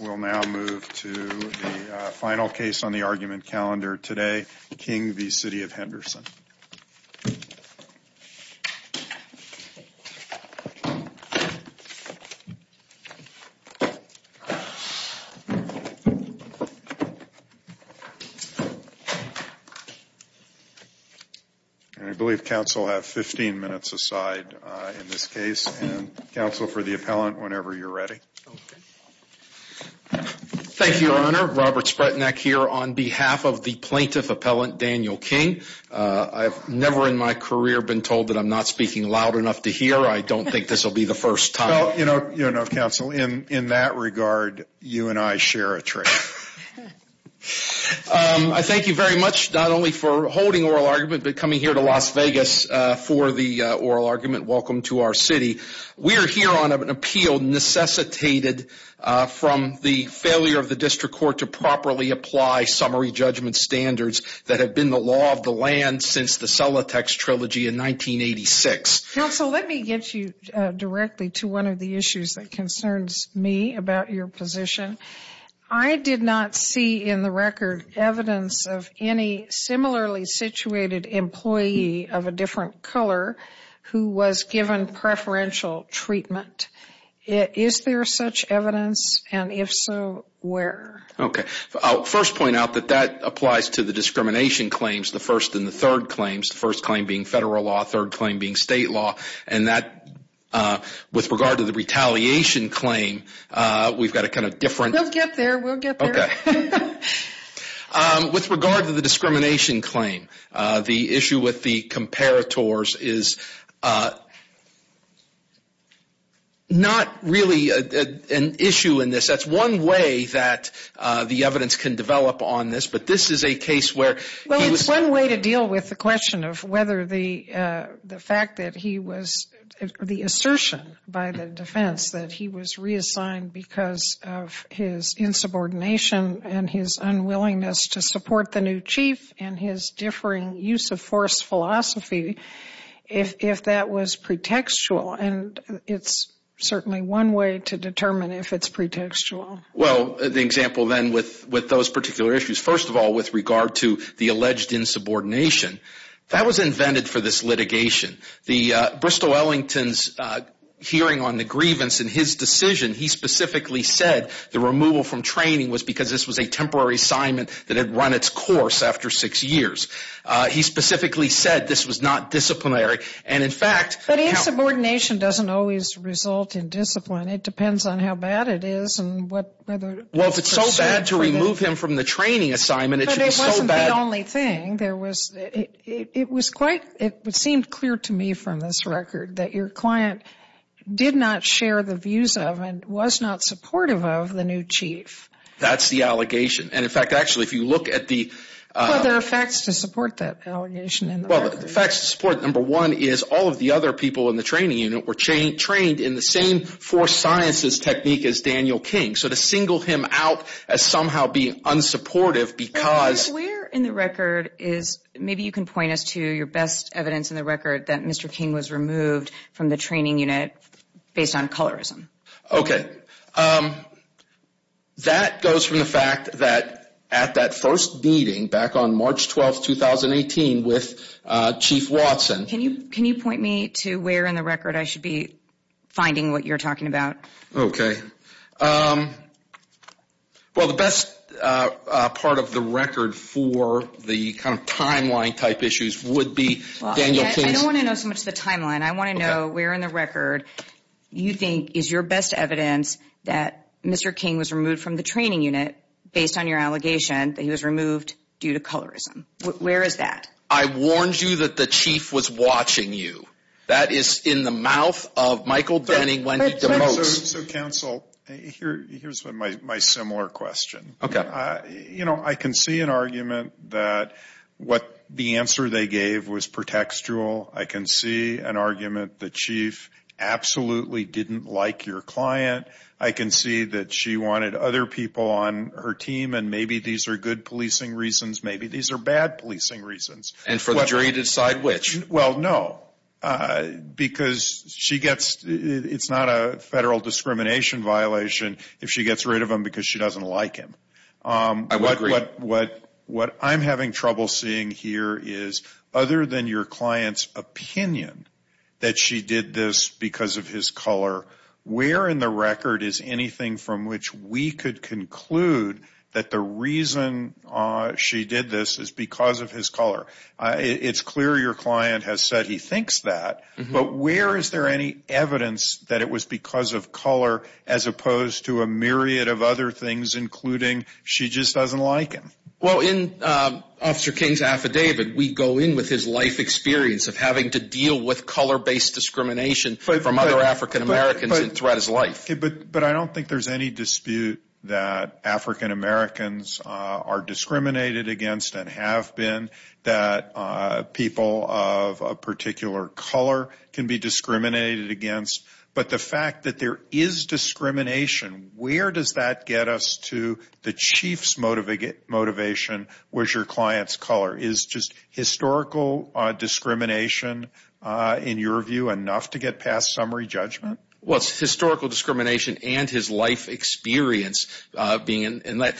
We will now move to the final case on the argument calendar today, King v. City of Henderson. I believe counsel have 15 minutes aside in this case. Counsel, for the appellant, whenever you are ready. Thank you, Your Honor. Robert Spretnak here on behalf of the plaintiff appellant, Daniel King. I've never in my career been told that I'm not speaking loud enough to hear. I don't think this will be the first time. Well, you know, counsel, in that regard, you and I share a trick. I thank you very much, not only for holding oral argument, but coming here to Las Vegas for the oral argument. Welcome to our city. We're here on an appeal necessitated from the failure of the district court to properly apply summary judgment standards that have been the law of the land since the Celotex trilogy in 1986. Counsel, let me get you directly to one of the issues that concerns me about your position. I did not see in the record evidence of any similarly situated employee of a different color who was given preferential treatment. Is there such evidence? And if so, where? Okay. I'll first point out that that applies to the discrimination claims, the first and the third claims, the first claim being federal law, third claim being state law. And that, with regard to the retaliation claim, we've got a kind of different... We'll get there. We'll get there. Okay. With regard to the discrimination claim, the issue with the comparators is not really an issue in this. That's one way that the evidence can develop on this, but this is a case where... Well, it's one way to deal with the question of whether the fact that he was, the assertion by the defense that he was reassigned because of his insubordination and his unwillingness to support the new chief and his differing use of force philosophy, if that was pretextual. And it's certainly one way to determine if it's pretextual. Well, the example then with those particular issues. First of all, with regard to the alleged insubordination, that was invented for this litigation. The Bristol-Ellington's hearing on the grievance in his decision, he specifically said the removal from training was because this was a temporary assignment that had run its course after six years. He specifically said this was not disciplinary, and in fact... Well, insubordination doesn't always result in discipline. It depends on how bad it is and whether... Well, if it's so bad to remove him from the training assignment, it should be so bad... But it wasn't the only thing. It seemed clear to me from this record that your client did not share the views of and was not supportive of the new chief. That's the allegation. And in fact, actually, if you look at the... Well, there are facts to support that allegation in the record. Well, the facts to support, number one, is all of the other people in the training unit were trained in the same forced sciences technique as Daniel King. So to single him out as somehow being unsupportive because... What we're aware in the record is, maybe you can point us to your best evidence in the record, that Mr. King was removed from the training unit based on colorism. Okay. That goes from the fact that at that first meeting back on March 12, 2018, with Chief Watson... Can you point me to where in the record I should be finding what you're talking about? Okay. Well, the best part of the record for the kind of timeline-type issues would be Daniel King's... Your best evidence that Mr. King was removed from the training unit based on your allegation that he was removed due to colorism. Where is that? I warned you that the chief was watching you. That is in the mouth of Michael Denning, Wendy DeMose. So, counsel, here's my similar question. Okay. I can see an argument that the answer they gave was pretextual. I can see an argument the chief absolutely didn't like your client. I can see that she wanted other people on her team, and maybe these are good policing reasons. Maybe these are bad policing reasons. And for the jury to decide which? Well, no, because it's not a federal discrimination violation if she gets rid of him because she doesn't like him. I would agree. What I'm having trouble seeing here is, other than your client's opinion that she did this because of his color, where in the record is anything from which we could conclude that the reason she did this is because of his color? It's clear your client has said he thinks that, but where is there any evidence that it was because of color as opposed to a myriad of other things, including she just doesn't like him? Well, in Officer King's affidavit, we go in with his life experience of having to deal with color-based discrimination from other African Americans throughout his life. But I don't think there's any dispute that African Americans are discriminated against and have been, that people of a particular color can be discriminated against. But the fact that there is discrimination, where does that get us to the chief's motivation, where's your client's color? Is just historical discrimination, in your view, enough to get past summary judgment? Well, it's historical discrimination and his life experience being in that.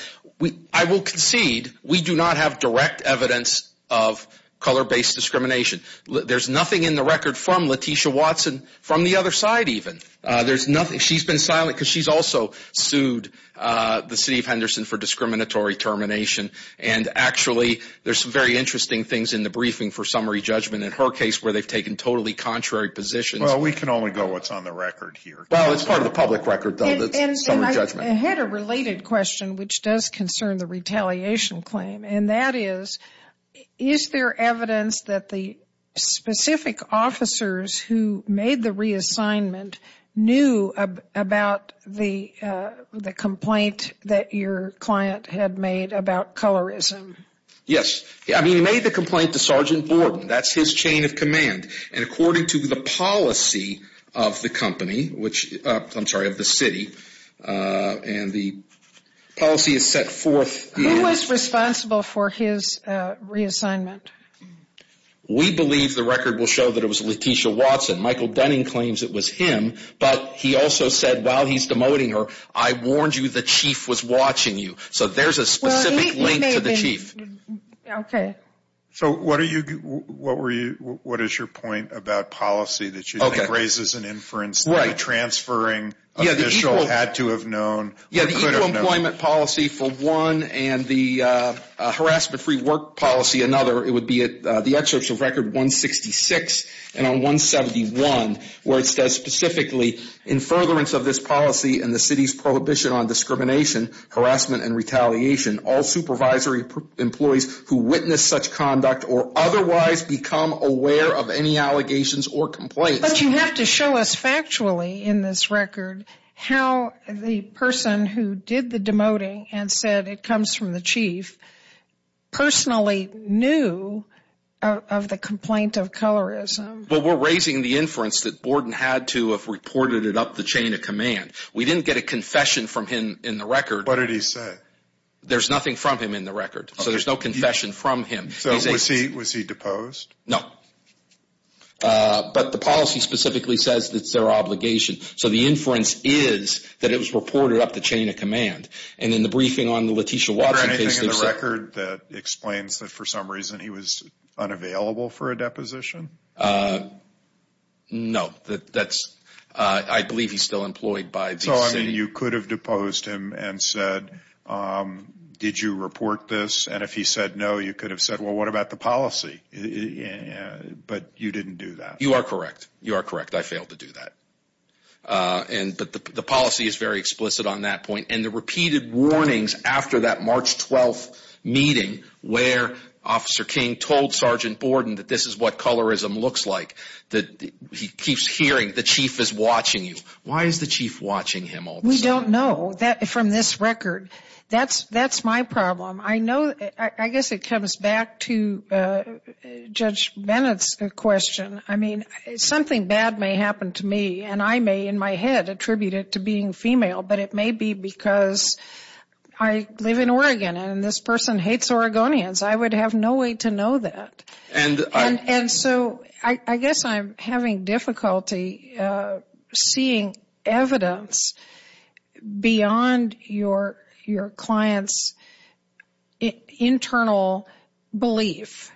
I will concede we do not have direct evidence of color-based discrimination. There's nothing in the record from Letitia Watson, from the other side even. She's been silent because she's also sued the city of Henderson for discriminatory termination. And actually, there's some very interesting things in the briefing for summary judgment in her case where they've taken totally contrary positions. Well, we can only go what's on the record here. Well, it's part of the public record, though, that's summary judgment. And I had a related question, which does concern the retaliation claim. And that is, is there evidence that the specific officers who made the reassignment knew about the complaint that your client had made about colorism? Yes. I mean, he made the complaint to Sergeant Borden. That's his chain of command. And according to the policy of the company, I'm sorry, of the city, and the policy is set forth. Who was responsible for his reassignment? We believe the record will show that it was Letitia Watson. Michael Dunning claims it was him. But he also said while he's demoting her, I warned you the chief was watching you. So there's a specific link to the chief. Okay. So what is your point about policy that you think raises an inference that a transferring official had to have known or could have known? Yeah, the equal employment policy for one and the harassment-free work policy another, it would be at the excerpts of record 166 and on 171, where it says specifically, in furtherance of this policy and the city's prohibition on discrimination, harassment, and retaliation, all supervisory employees who witness such conduct or otherwise become aware of any allegations or complaints. But you have to show us factually in this record how the person who did the demoting and said it comes from the chief personally knew of the complaint of colorism. Well, we're raising the inference that Borden had to have reported it up the chain of command. We didn't get a confession from him in the record. What did he say? There's nothing from him in the record. So there's no confession from him. So was he deposed? No. But the policy specifically says it's their obligation. So the inference is that it was reported up the chain of command. And in the briefing on the Letitia Watson case, they said – Is there anything in the record that explains that for some reason he was unavailable for a deposition? No. That's – I believe he's still employed by the city. So, I mean, you could have deposed him and said, did you report this? And if he said no, you could have said, well, what about the policy? But you didn't do that. You are correct. You are correct. I failed to do that. But the policy is very explicit on that point. And the repeated warnings after that March 12th meeting where Officer King told Sergeant Borden that this is what colorism looks like, that he keeps hearing, the chief is watching you. Why is the chief watching him all the time? We don't know from this record. That's my problem. I know – I guess it comes back to Judge Bennett's question. I mean, something bad may happen to me, and I may in my head attribute it to being female, but it may be because I live in Oregon and this person hates Oregonians. I would have no way to know that. And so I guess I'm having difficulty seeing evidence beyond your client's internal belief,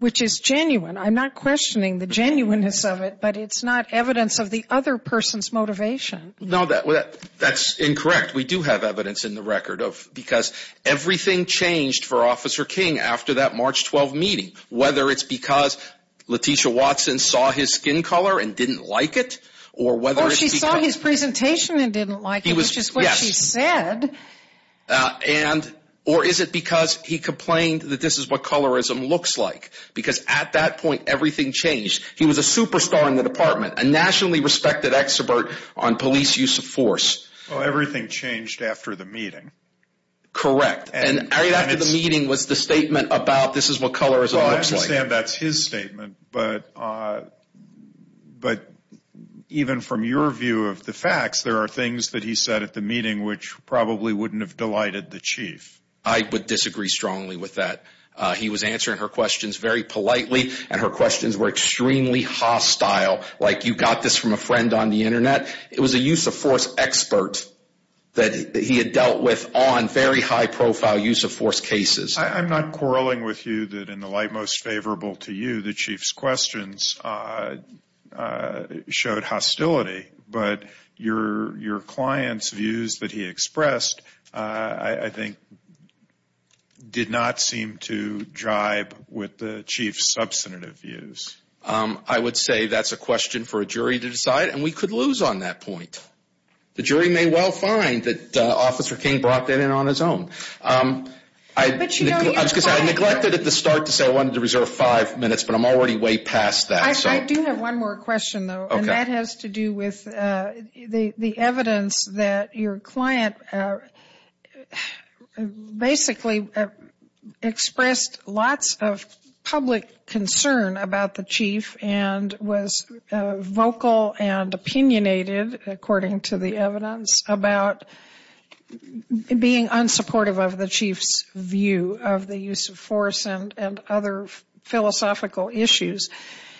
which is genuine. I'm not questioning the genuineness of it, but it's not evidence of the other person's motivation. No, that's incorrect. We do have evidence in the record because everything changed for Officer King after that March 12th meeting, whether it's because Letitia Watson saw his skin color and didn't like it. Or she saw his presentation and didn't like it, which is what she said. Or is it because he complained that this is what colorism looks like? Because at that point, everything changed. He was a superstar in the department, a nationally respected expert on police use of force. Well, everything changed after the meeting. Correct. And right after the meeting was the statement about this is what colorism looks like. Well, I understand that's his statement, but even from your view of the facts, there are things that he said at the meeting which probably wouldn't have delighted the chief. I would disagree strongly with that. He was answering her questions very politely, and her questions were extremely hostile, like you got this from a friend on the Internet. It was a use of force expert that he had dealt with on very high-profile use of force cases. I'm not quarreling with you that in the light most favorable to you, the chief's questions showed hostility. But your client's views that he expressed, I think, did not seem to jive with the chief's substantive views. I would say that's a question for a jury to decide, and we could lose on that point. The jury may well find that Officer King brought that in on his own. I neglected at the start to say I wanted to reserve five minutes, but I'm already way past that. I do have one more question, though, and that has to do with the evidence that your client basically expressed lots of public concern about the chief and was vocal and opinionated, according to the evidence, about being unsupportive of the chief's view of the use of force and other philosophical issues.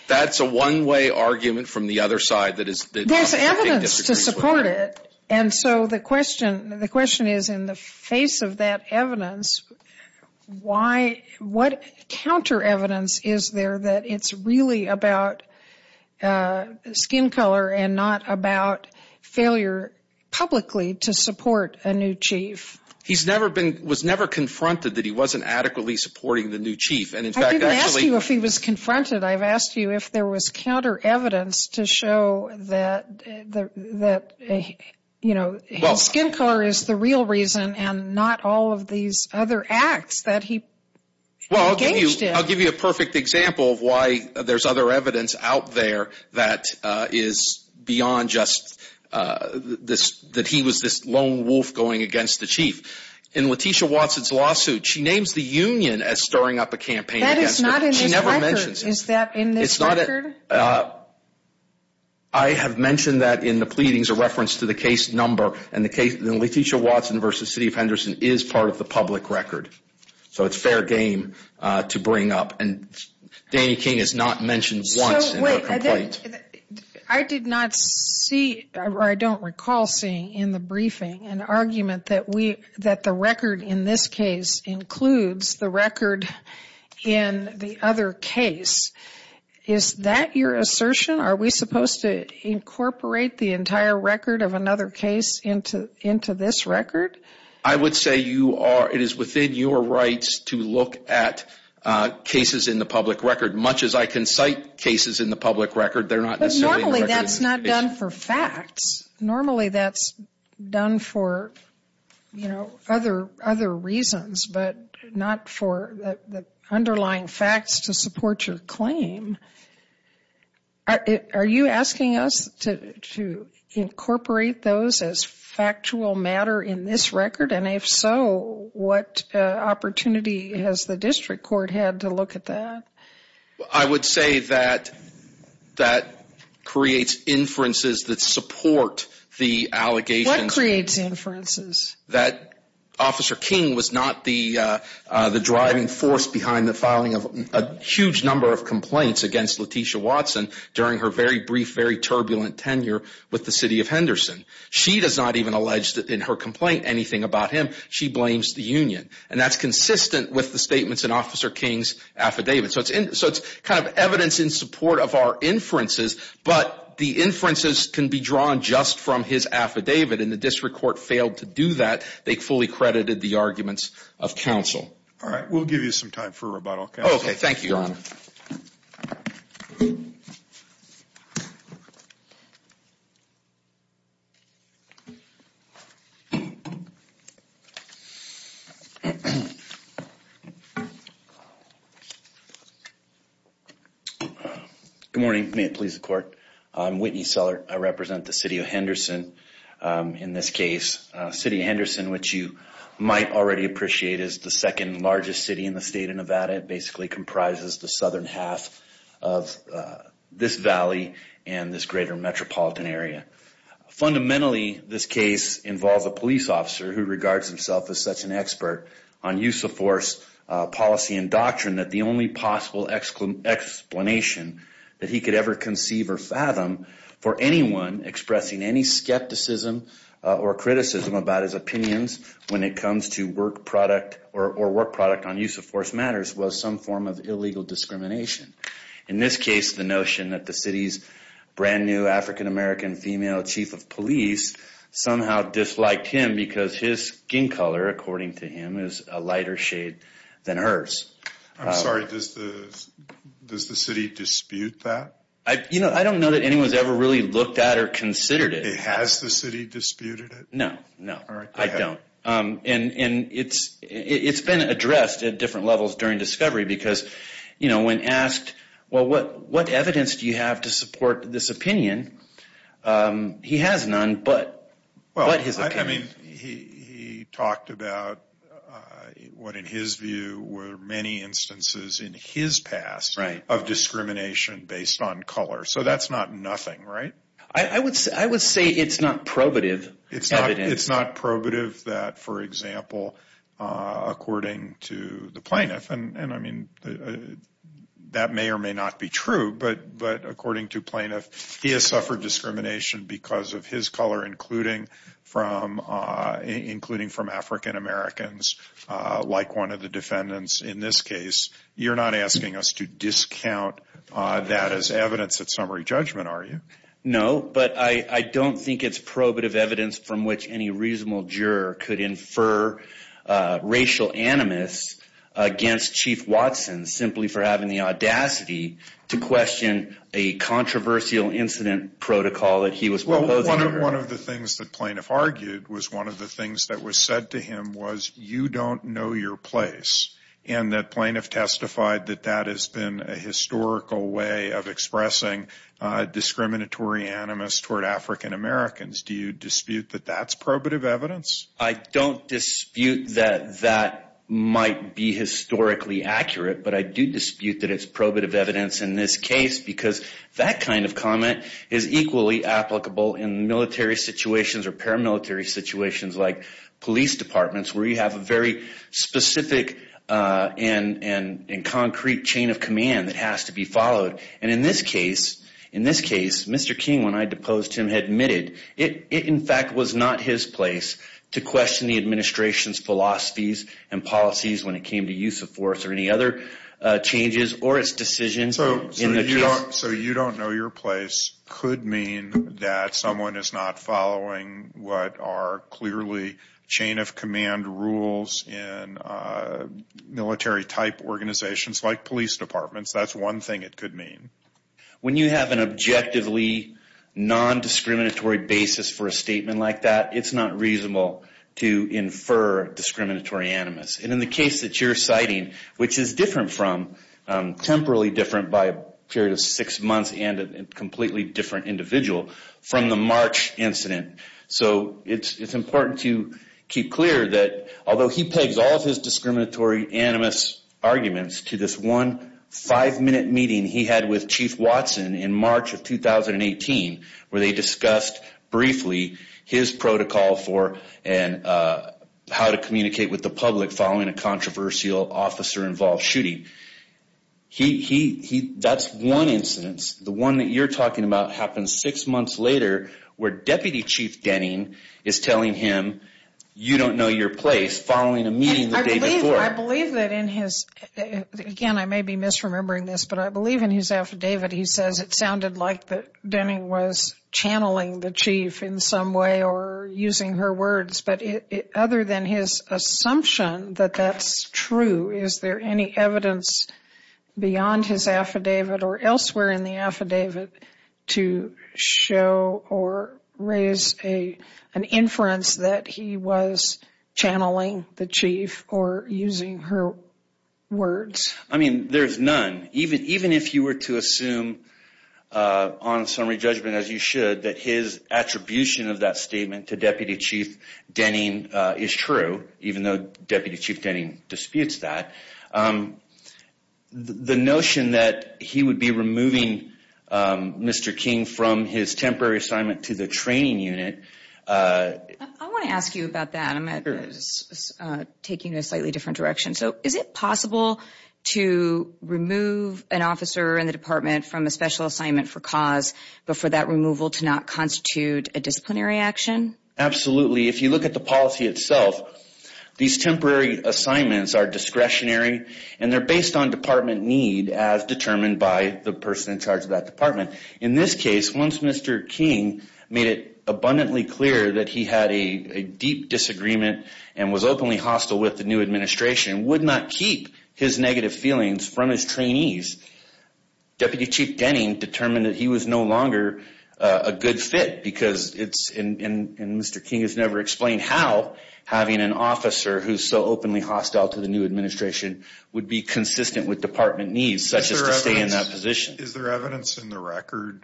That's a one-way argument from the other side that Officer King disagrees with. There's evidence to support it, and so the question is, in the face of that evidence, what counter-evidence is there that it's really about skin color and not about failure publicly to support a new chief? He was never confronted that he wasn't adequately supporting the new chief. I didn't ask you if he was confronted. I've asked you if there was counter-evidence to show that his skin color is the real reason and not all of these other acts that he engaged in. I'll give you a perfect example of why there's other evidence out there that is beyond just that he was this lone wolf going against the chief. In Letitia Watson's lawsuit, she names the union as stirring up a campaign against her. That is not in this record. She never mentions it. Is that in this record? I have mentioned that in the pleadings, a reference to the case number, and Letitia Watson v. City of Henderson is part of the public record, so it's fair game to bring up. And Danny King is not mentioned once in her complaint. I did not see, or I don't recall seeing in the briefing, an argument that the record in this case includes the record in the other case. Is that your assertion? Are we supposed to incorporate the entire record of another case into this record? I would say it is within your rights to look at cases in the public record. Much as I can cite cases in the public record, they're not necessarily in the record. But normally that's not done for facts. Normally that's done for other reasons, but not for the underlying facts to support your claim. Are you asking us to incorporate those as factual matter in this record? And if so, what opportunity has the district court had to look at that? I would say that that creates inferences that support the allegations. What creates inferences? That Officer King was not the driving force behind the filing of a huge number of complaints against Letitia Watson during her very brief, very turbulent tenure with the City of Henderson. She does not even allege in her complaint anything about him. She blames the union. And that's consistent with the statements in Officer King's affidavit. So it's kind of evidence in support of our inferences, but the inferences can be drawn just from his affidavit. And the district court failed to do that. They fully credited the arguments of counsel. All right. We'll give you some time for rebuttal. Oh, okay. Thank you, Your Honor. Thank you. Good morning. May it please the court. I'm Whitney Sellert. I represent the City of Henderson in this case. The City of Henderson, which you might already appreciate, is the second largest city in the state of Nevada. It basically comprises the southern half of this valley and this greater metropolitan area. Fundamentally, this case involves a police officer who regards himself as such an expert on use of force policy and doctrine that the only possible explanation that he could ever conceive or fathom for anyone expressing any skepticism or criticism about his opinions when it comes to work product or work product on use of force matters was some form of illegal discrimination. In this case, the notion that the city's brand-new African-American female chief of police somehow disliked him because his skin color, according to him, is a lighter shade than hers. I'm sorry. Does the city dispute that? You know, I don't know that anyone's ever really looked at or considered it. Has the city disputed it? No, no, I don't. And it's been addressed at different levels during discovery because, you know, when asked, well, what evidence do you have to support this opinion, he has none but his opinion. Well, I mean, he talked about what in his view were many instances in his past of discrimination based on color. So that's not nothing, right? I would say it's not probative evidence. It's not probative that, for example, according to the plaintiff, and I mean that may or may not be true, but according to plaintiff, he has suffered discrimination because of his color, including from African-Americans like one of the defendants in this case. You're not asking us to discount that as evidence at summary judgment, are you? No, but I don't think it's probative evidence from which any reasonable juror could infer racial animus against Chief Watson simply for having the audacity to question a controversial incident protocol that he was proposing. Well, one of the things that plaintiff argued was one of the things that was said to him was you don't know your place, and that plaintiff testified that that has been a historical way of expressing discriminatory animus toward African-Americans. Do you dispute that that's probative evidence? I don't dispute that that might be historically accurate, but I do dispute that it's probative evidence in this case because that kind of comment is equally applicable in military situations or paramilitary situations like police departments where you have a very specific and concrete chain of command that has to be followed. And in this case, Mr. King, when I deposed him, admitted it in fact was not his place to question the administration's philosophies and policies when it came to use of force or any other changes or its decisions in the case. So you don't know your place could mean that someone is not following what are clearly chain of command rules in military-type organizations like police departments. That's one thing it could mean. When you have an objectively nondiscriminatory basis for a statement like that, it's not reasonable to infer discriminatory animus. And in the case that you're citing, which is different from, temporarily different by a period of six months and a completely different individual from the March incident. So it's important to keep clear that although he pegs all of his discriminatory animus arguments to this one five-minute meeting he had with Chief Watson in March of 2018 where they discussed briefly his protocol for how to communicate with the public following a controversial officer-involved shooting. That's one incidence. The one that you're talking about happened six months later where Deputy Chief Denning is telling him you don't know your place following a meeting the day before. I believe that in his, again I may be misremembering this, but I believe in his affidavit he says it sounded like that Denning was channeling the chief in some way or using her words. But other than his assumption that that's true, is there any evidence beyond his affidavit or elsewhere in the affidavit to show or raise an inference that he was channeling the chief or using her words? I mean, there's none. Even if you were to assume on summary judgment as you should that his attribution of that statement to Deputy Chief Denning is true, even though Deputy Chief Denning disputes that, the notion that he would be removing Mr. King from his temporary assignment to the training unit... I want to ask you about that. I'm taking you in a slightly different direction. So is it possible to remove an officer in the department from a special assignment for cause but for that removal to not constitute a disciplinary action? Absolutely. If you look at the policy itself, these temporary assignments are discretionary and they're based on department need as determined by the person in charge of that department. In this case, once Mr. King made it abundantly clear that he had a deep disagreement and was openly hostile with the new administration, would not keep his negative feelings from his trainees, Deputy Chief Denning determined that he was no longer a good fit because it's in Mr. King has never explained how having an officer who's so openly hostile to the new administration would be consistent with department needs such as to stay in that position. Is there evidence in the record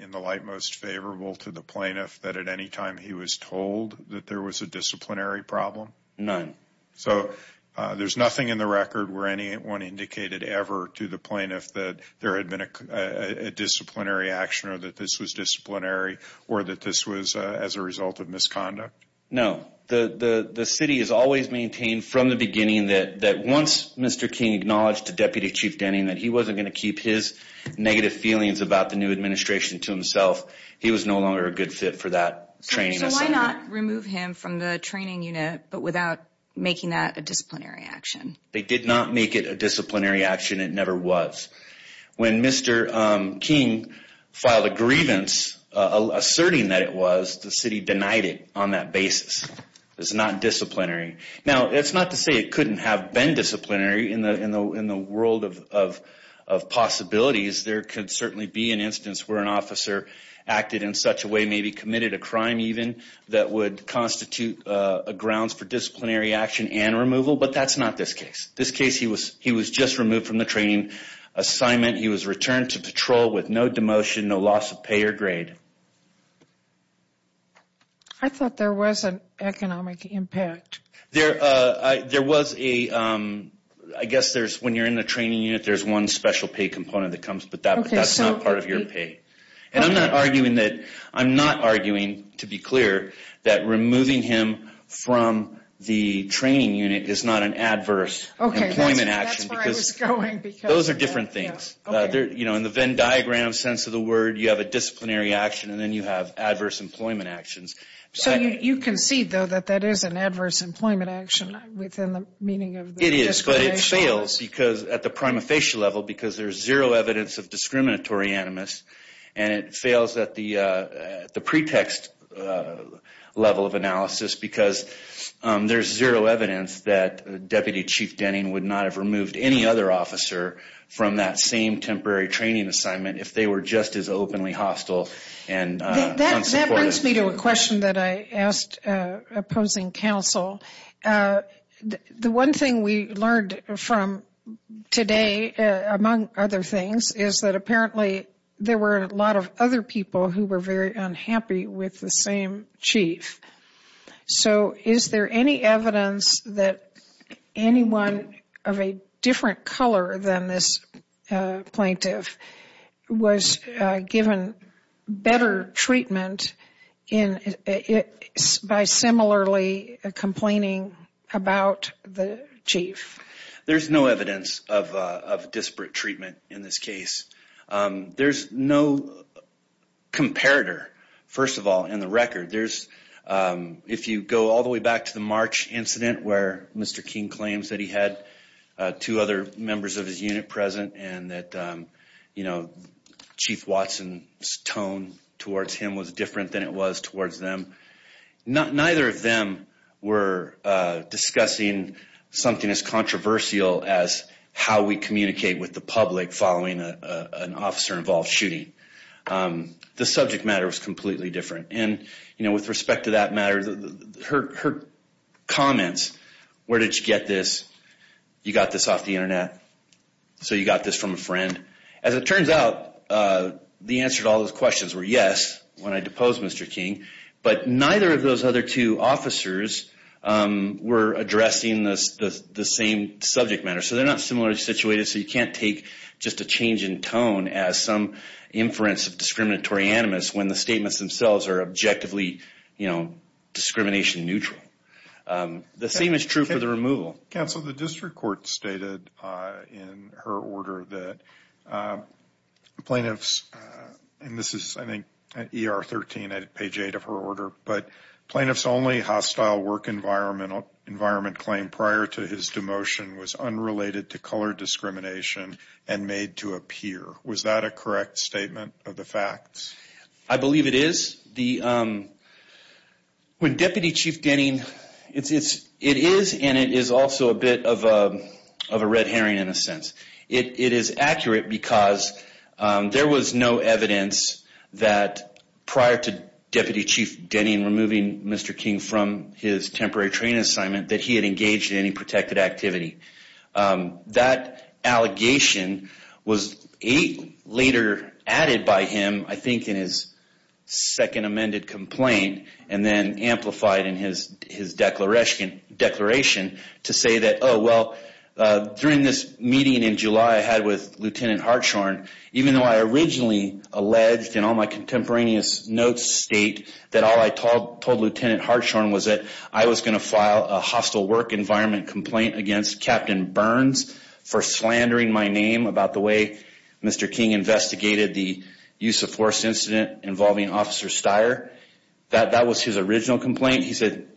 in the light most favorable to the plaintiff that at any time he was told that there was a disciplinary problem? None. So there's nothing in the record where anyone indicated ever to the plaintiff that there had been a disciplinary action or that this was disciplinary or that this was as a result of misconduct? No. The city has always maintained from the beginning that once Mr. King acknowledged to Deputy Chief Denning that he wasn't going to keep his negative feelings about the new administration to himself, he was no longer a good fit for that training assignment. So why not remove him from the training unit but without making that a disciplinary action? They did not make it a disciplinary action. It never was. When Mr. King filed a grievance asserting that it was, the city denied it on that basis. It's not disciplinary. Now, it's not to say it couldn't have been disciplinary in the world of possibilities. There could certainly be an instance where an officer acted in such a way, maybe committed a crime even, that would constitute a grounds for disciplinary action and removal. But that's not this case. This case, he was just removed from the training assignment. He was returned to patrol with no demotion, no loss of pay or grade. I thought there was an economic impact. There was a, I guess there's, when you're in the training unit, there's one special pay component that comes with that, but that's not part of your pay. And I'm not arguing that, I'm not arguing, to be clear, that removing him from the training unit is not an adverse employment action. Okay, that's where I was going. Those are different things. You know, in the Venn diagram sense of the word, you have a disciplinary action and then you have adverse employment actions. So you concede, though, that that is an adverse employment action within the meaning of the disciplinary action? It fails because, at the prima facie level, because there's zero evidence of discriminatory animus, and it fails at the pretext level of analysis because there's zero evidence that Deputy Chief Denning would not have removed any other officer from that same temporary training assignment if they were just as openly hostile and unsupportive. That brings me to a question that I asked opposing counsel. The one thing we learned from today, among other things, is that apparently there were a lot of other people who were very unhappy with the same chief. So is there any evidence that anyone of a different color than this plaintiff was given better treatment by similarly complaining about the chief? There's no evidence of disparate treatment in this case. There's no comparator, first of all, in the record. If you go all the way back to the March incident where Mr. King claims that he had two other members of his unit present and that Chief Watson's tone towards him was different than it was towards them, neither of them were discussing something as controversial as how we communicate with the public following an officer-involved shooting. The subject matter was completely different. And with respect to that matter, her comments, where did you get this? You got this off the Internet? So you got this from a friend? As it turns out, the answer to all those questions were yes, when I deposed Mr. King. But neither of those other two officers were addressing the same subject matter. So they're not similarly situated. So you can't take just a change in tone as some inference of discriminatory animus when the statements themselves are objectively, you know, discrimination neutral. The same is true for the removal. Counsel, the district court stated in her order that plaintiffs, and this is I think at ER 13 at page 8 of her order, but plaintiffs' only hostile work environment claim prior to his demotion was unrelated to color discrimination and made to appear. Was that a correct statement of the facts? I believe it is. When Deputy Chief Denning, it is and it is also a bit of a red herring in a sense. It is accurate because there was no evidence that prior to Deputy Chief Denning removing Mr. King from his temporary training assignment that he had engaged in any protected activity. That allegation was later added by him, I think, in his second amended complaint and then amplified in his declaration to say that, oh, well, during this meeting in July I had with Lieutenant Hartshorne, even though I originally alleged in all my contemporaneous notes state that all I told Lieutenant Hartshorne was that I was going to file a hostile work environment complaint against Captain Burns for slandering my name about the way Mr. King investigated the use of force incident involving Officer Steyer. That was his original complaint. He said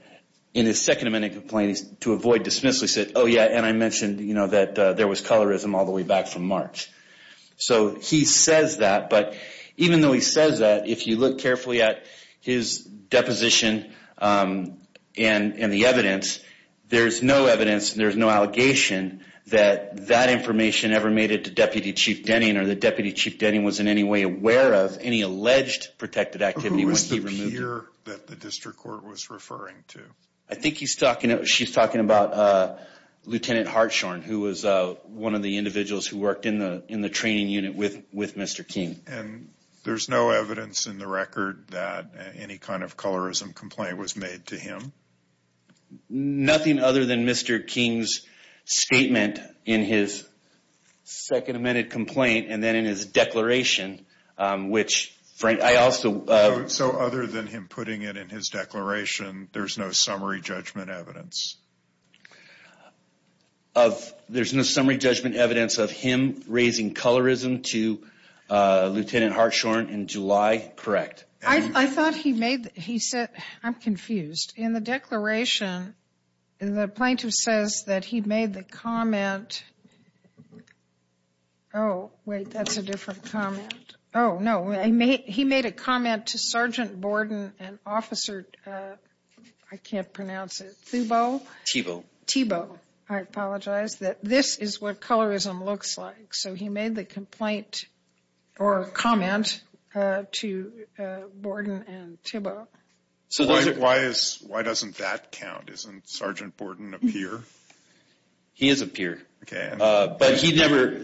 in his second amended complaint to avoid dismissal, he said, oh, yeah, and I mentioned that there was colorism all the way back from March. So he says that, but even though he says that, if you look carefully at his deposition and the evidence, there's no evidence and there's no allegation that that information ever made it to Deputy Chief Denning or that Deputy Chief Denning was in any way aware of any alleged protected activity when he removed him. Who was the peer that the district court was referring to? I think she's talking about Lieutenant Hartshorne, who was one of the individuals who worked in the training unit with Mr. King. And there's no evidence in the record that any kind of colorism complaint was made to him? Nothing other than Mr. King's statement in his second amended complaint and then in his declaration, which Frank, I also. So other than him putting it in his declaration, there's no summary judgment evidence? There's no summary judgment evidence of him raising colorism to Lieutenant Hartshorne in July? Correct. I thought he made, he said, I'm confused. In the declaration, the plaintiff says that he made the comment. Oh, wait, that's a different comment. Oh, no, he made a comment to Sergeant Borden and Officer, I can't pronounce it, Thubot. Thubot. Thubot, I apologize, that this is what colorism looks like. So he made the complaint or comment to Borden and Thubot. So why doesn't that count? Isn't Sergeant Borden a peer? He is a peer. Okay. But he never,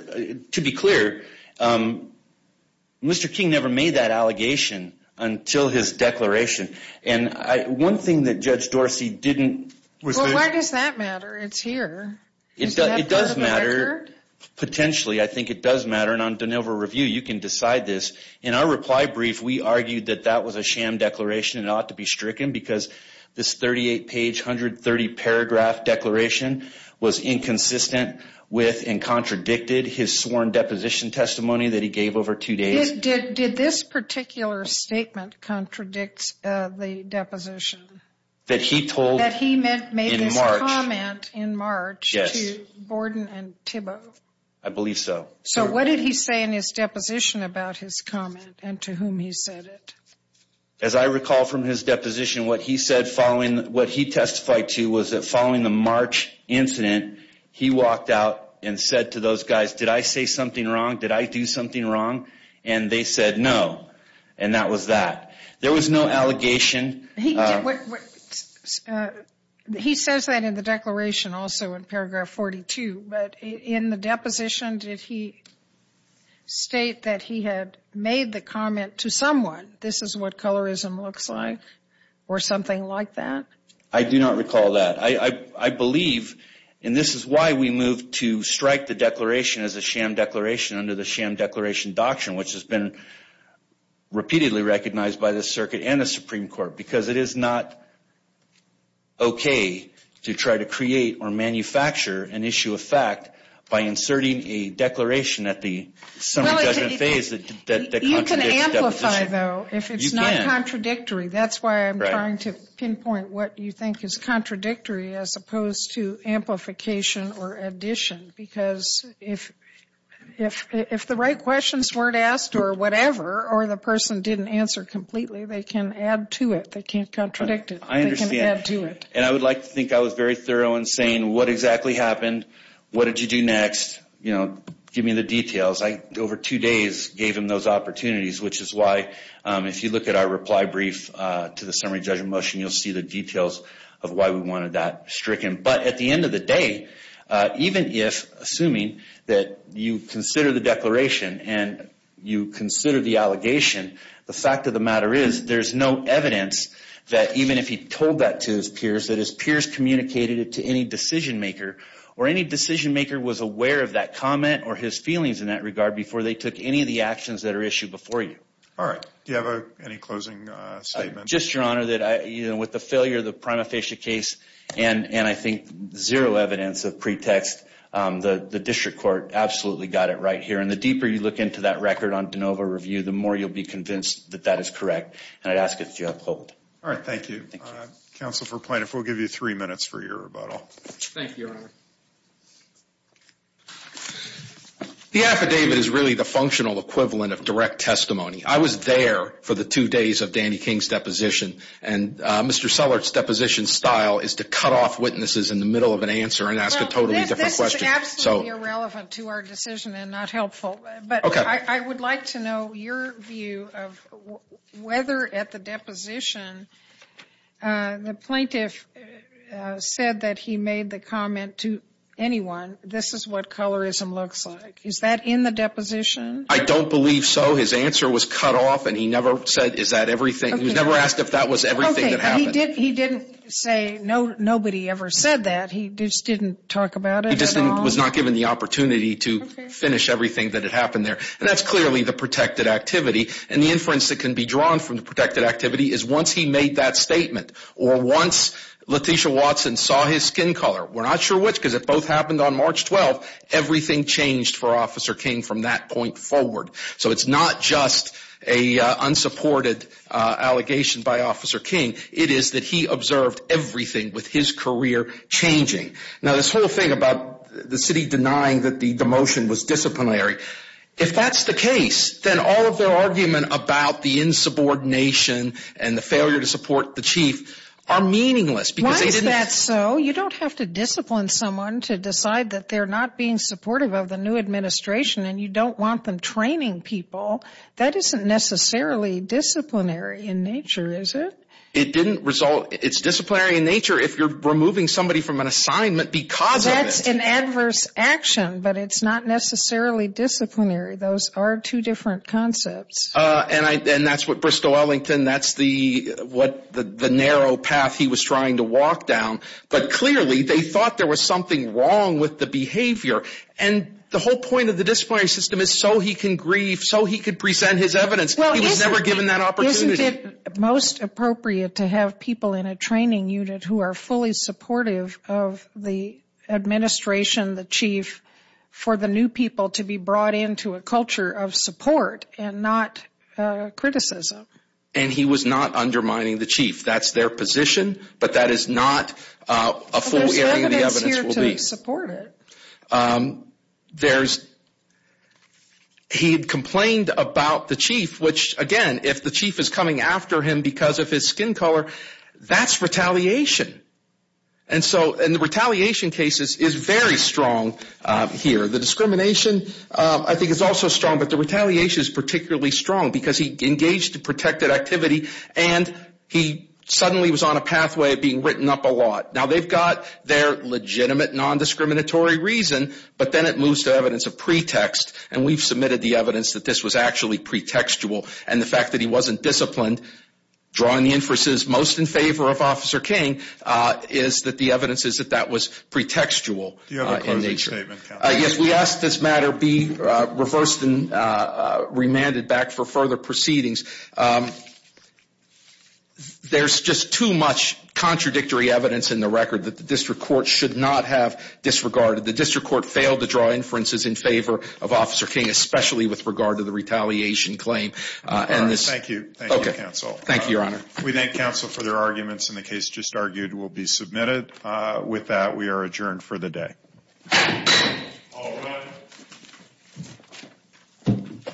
to be clear, Mr. King never made that allegation until his declaration. And one thing that Judge Dorsey didn't. Well, why does that matter? It's here. It does matter. Potentially, I think it does matter. And on De Novo Review, you can decide this. In our reply brief, we argued that that was a sham declaration and ought to be stricken because this 38-page, 130-paragraph declaration was inconsistent with and contradicted his sworn deposition testimony that he gave over two days. Did this particular statement contradict the deposition? That he told in March. That he made his comment in March to Borden and Thubot. I believe so. So what did he say in his deposition about his comment and to whom he said it? As I recall from his deposition, what he said following, what he testified to was that following the March incident, he walked out and said to those guys, did I say something wrong? Did I do something wrong? And they said no. And that was that. There was no allegation. He says that in the declaration also in paragraph 42. Thank you. But in the deposition, did he state that he had made the comment to someone, this is what colorism looks like or something like that? I do not recall that. I believe, and this is why we moved to strike the declaration as a sham declaration under the sham declaration doctrine, which has been repeatedly recognized by the circuit and the Supreme Court, because it is not okay to try to create or manufacture an issue of fact by inserting a declaration at the summary judgment phase that contradicts deposition. You can amplify, though, if it's not contradictory. That's why I'm trying to pinpoint what you think is contradictory as opposed to amplification or addition. Because if the right questions weren't asked or whatever or the person didn't answer completely, they can add to it. They can't contradict it. I understand. They can add to it. And I would like to think I was very thorough in saying what exactly happened, what did you do next, you know, give me the details. I, over two days, gave him those opportunities, which is why if you look at our reply brief to the summary judgment motion, you'll see the details of why we wanted that stricken. But at the end of the day, even if, assuming that you consider the declaration and you consider the allegation, the fact of the matter is there's no evidence that even if he told that to his peers, that his peers communicated it to any decision maker or any decision maker was aware of that comment or his feelings in that regard before they took any of the actions that are issued before you. All right. Do you have any closing statements? Just, Your Honor, that with the failure of the prima facie case and I think zero evidence of pretext, the district court absolutely got it right here. And the deeper you look into that record on de novo review, the more you'll be convinced that that is correct, and I'd ask that you uphold. All right. Thank you. Counsel for plaintiff, we'll give you three minutes for your rebuttal. Thank you, Your Honor. The affidavit is really the functional equivalent of direct testimony. I was there for the two days of Danny King's deposition, and Mr. Sellert's deposition style is to cut off witnesses in the middle of an answer and ask a totally different question. This is absolutely irrelevant to our decision and not helpful. Okay. But I would like to know your view of whether at the deposition the plaintiff said that he made the comment to anyone, this is what colorism looks like. Is that in the deposition? I don't believe so. His answer was cut off, and he never said is that everything. He was never asked if that was everything that happened. He didn't say nobody ever said that. He just didn't talk about it at all? He just was not given the opportunity to finish everything that had happened there. And that's clearly the protected activity. And the inference that can be drawn from the protected activity is once he made that statement or once Letitia Watson saw his skin color, we're not sure which because it both happened on March 12th, everything changed for Officer King from that point forward. So it's not just an unsupported allegation by Officer King. It is that he observed everything with his career changing. Now, this whole thing about the city denying that the demotion was disciplinary, if that's the case, then all of their argument about the insubordination and the failure to support the chief are meaningless. Why is that so? You don't have to discipline someone to decide that they're not being supportive of the new administration and you don't want them training people. That isn't necessarily disciplinary in nature, is it? It's disciplinary in nature if you're removing somebody from an assignment because of it. That's an adverse action, but it's not necessarily disciplinary. Those are two different concepts. And that's what Bristol Ellington, that's the narrow path he was trying to walk down. But clearly they thought there was something wrong with the behavior. And the whole point of the disciplinary system is so he can grieve, so he can present his evidence. He was never given that opportunity. Isn't it most appropriate to have people in a training unit who are fully supportive of the administration, the chief, for the new people to be brought into a culture of support and not criticism? And he was not undermining the chief. That's their position, but that is not a full area of the evidence. He had complained about the chief, which, again, if the chief is coming after him because of his skin color, that's retaliation. And the retaliation case is very strong here. The discrimination, I think, is also strong, but the retaliation is particularly strong because he engaged in protected activity and he suddenly was on a pathway of being written up a lot. Now, they've got their legitimate non-discriminatory reason, but then it moves to evidence of pretext. And we've submitted the evidence that this was actually pretextual. And the fact that he wasn't disciplined, drawing the inferences most in favor of Officer King, is that the evidence is that that was pretextual in nature. Do you have a closing statement? Yes, we ask this matter be reversed and remanded back for further proceedings. There's just too much contradictory evidence in the record that the district court should not have disregarded. The district court failed to draw inferences in favor of Officer King, especially with regard to the retaliation claim. All right, thank you. Thank you, counsel. Thank you, Your Honor. We thank counsel for their arguments, and the case just argued will be submitted. With that, we are adjourned for the day. All rise.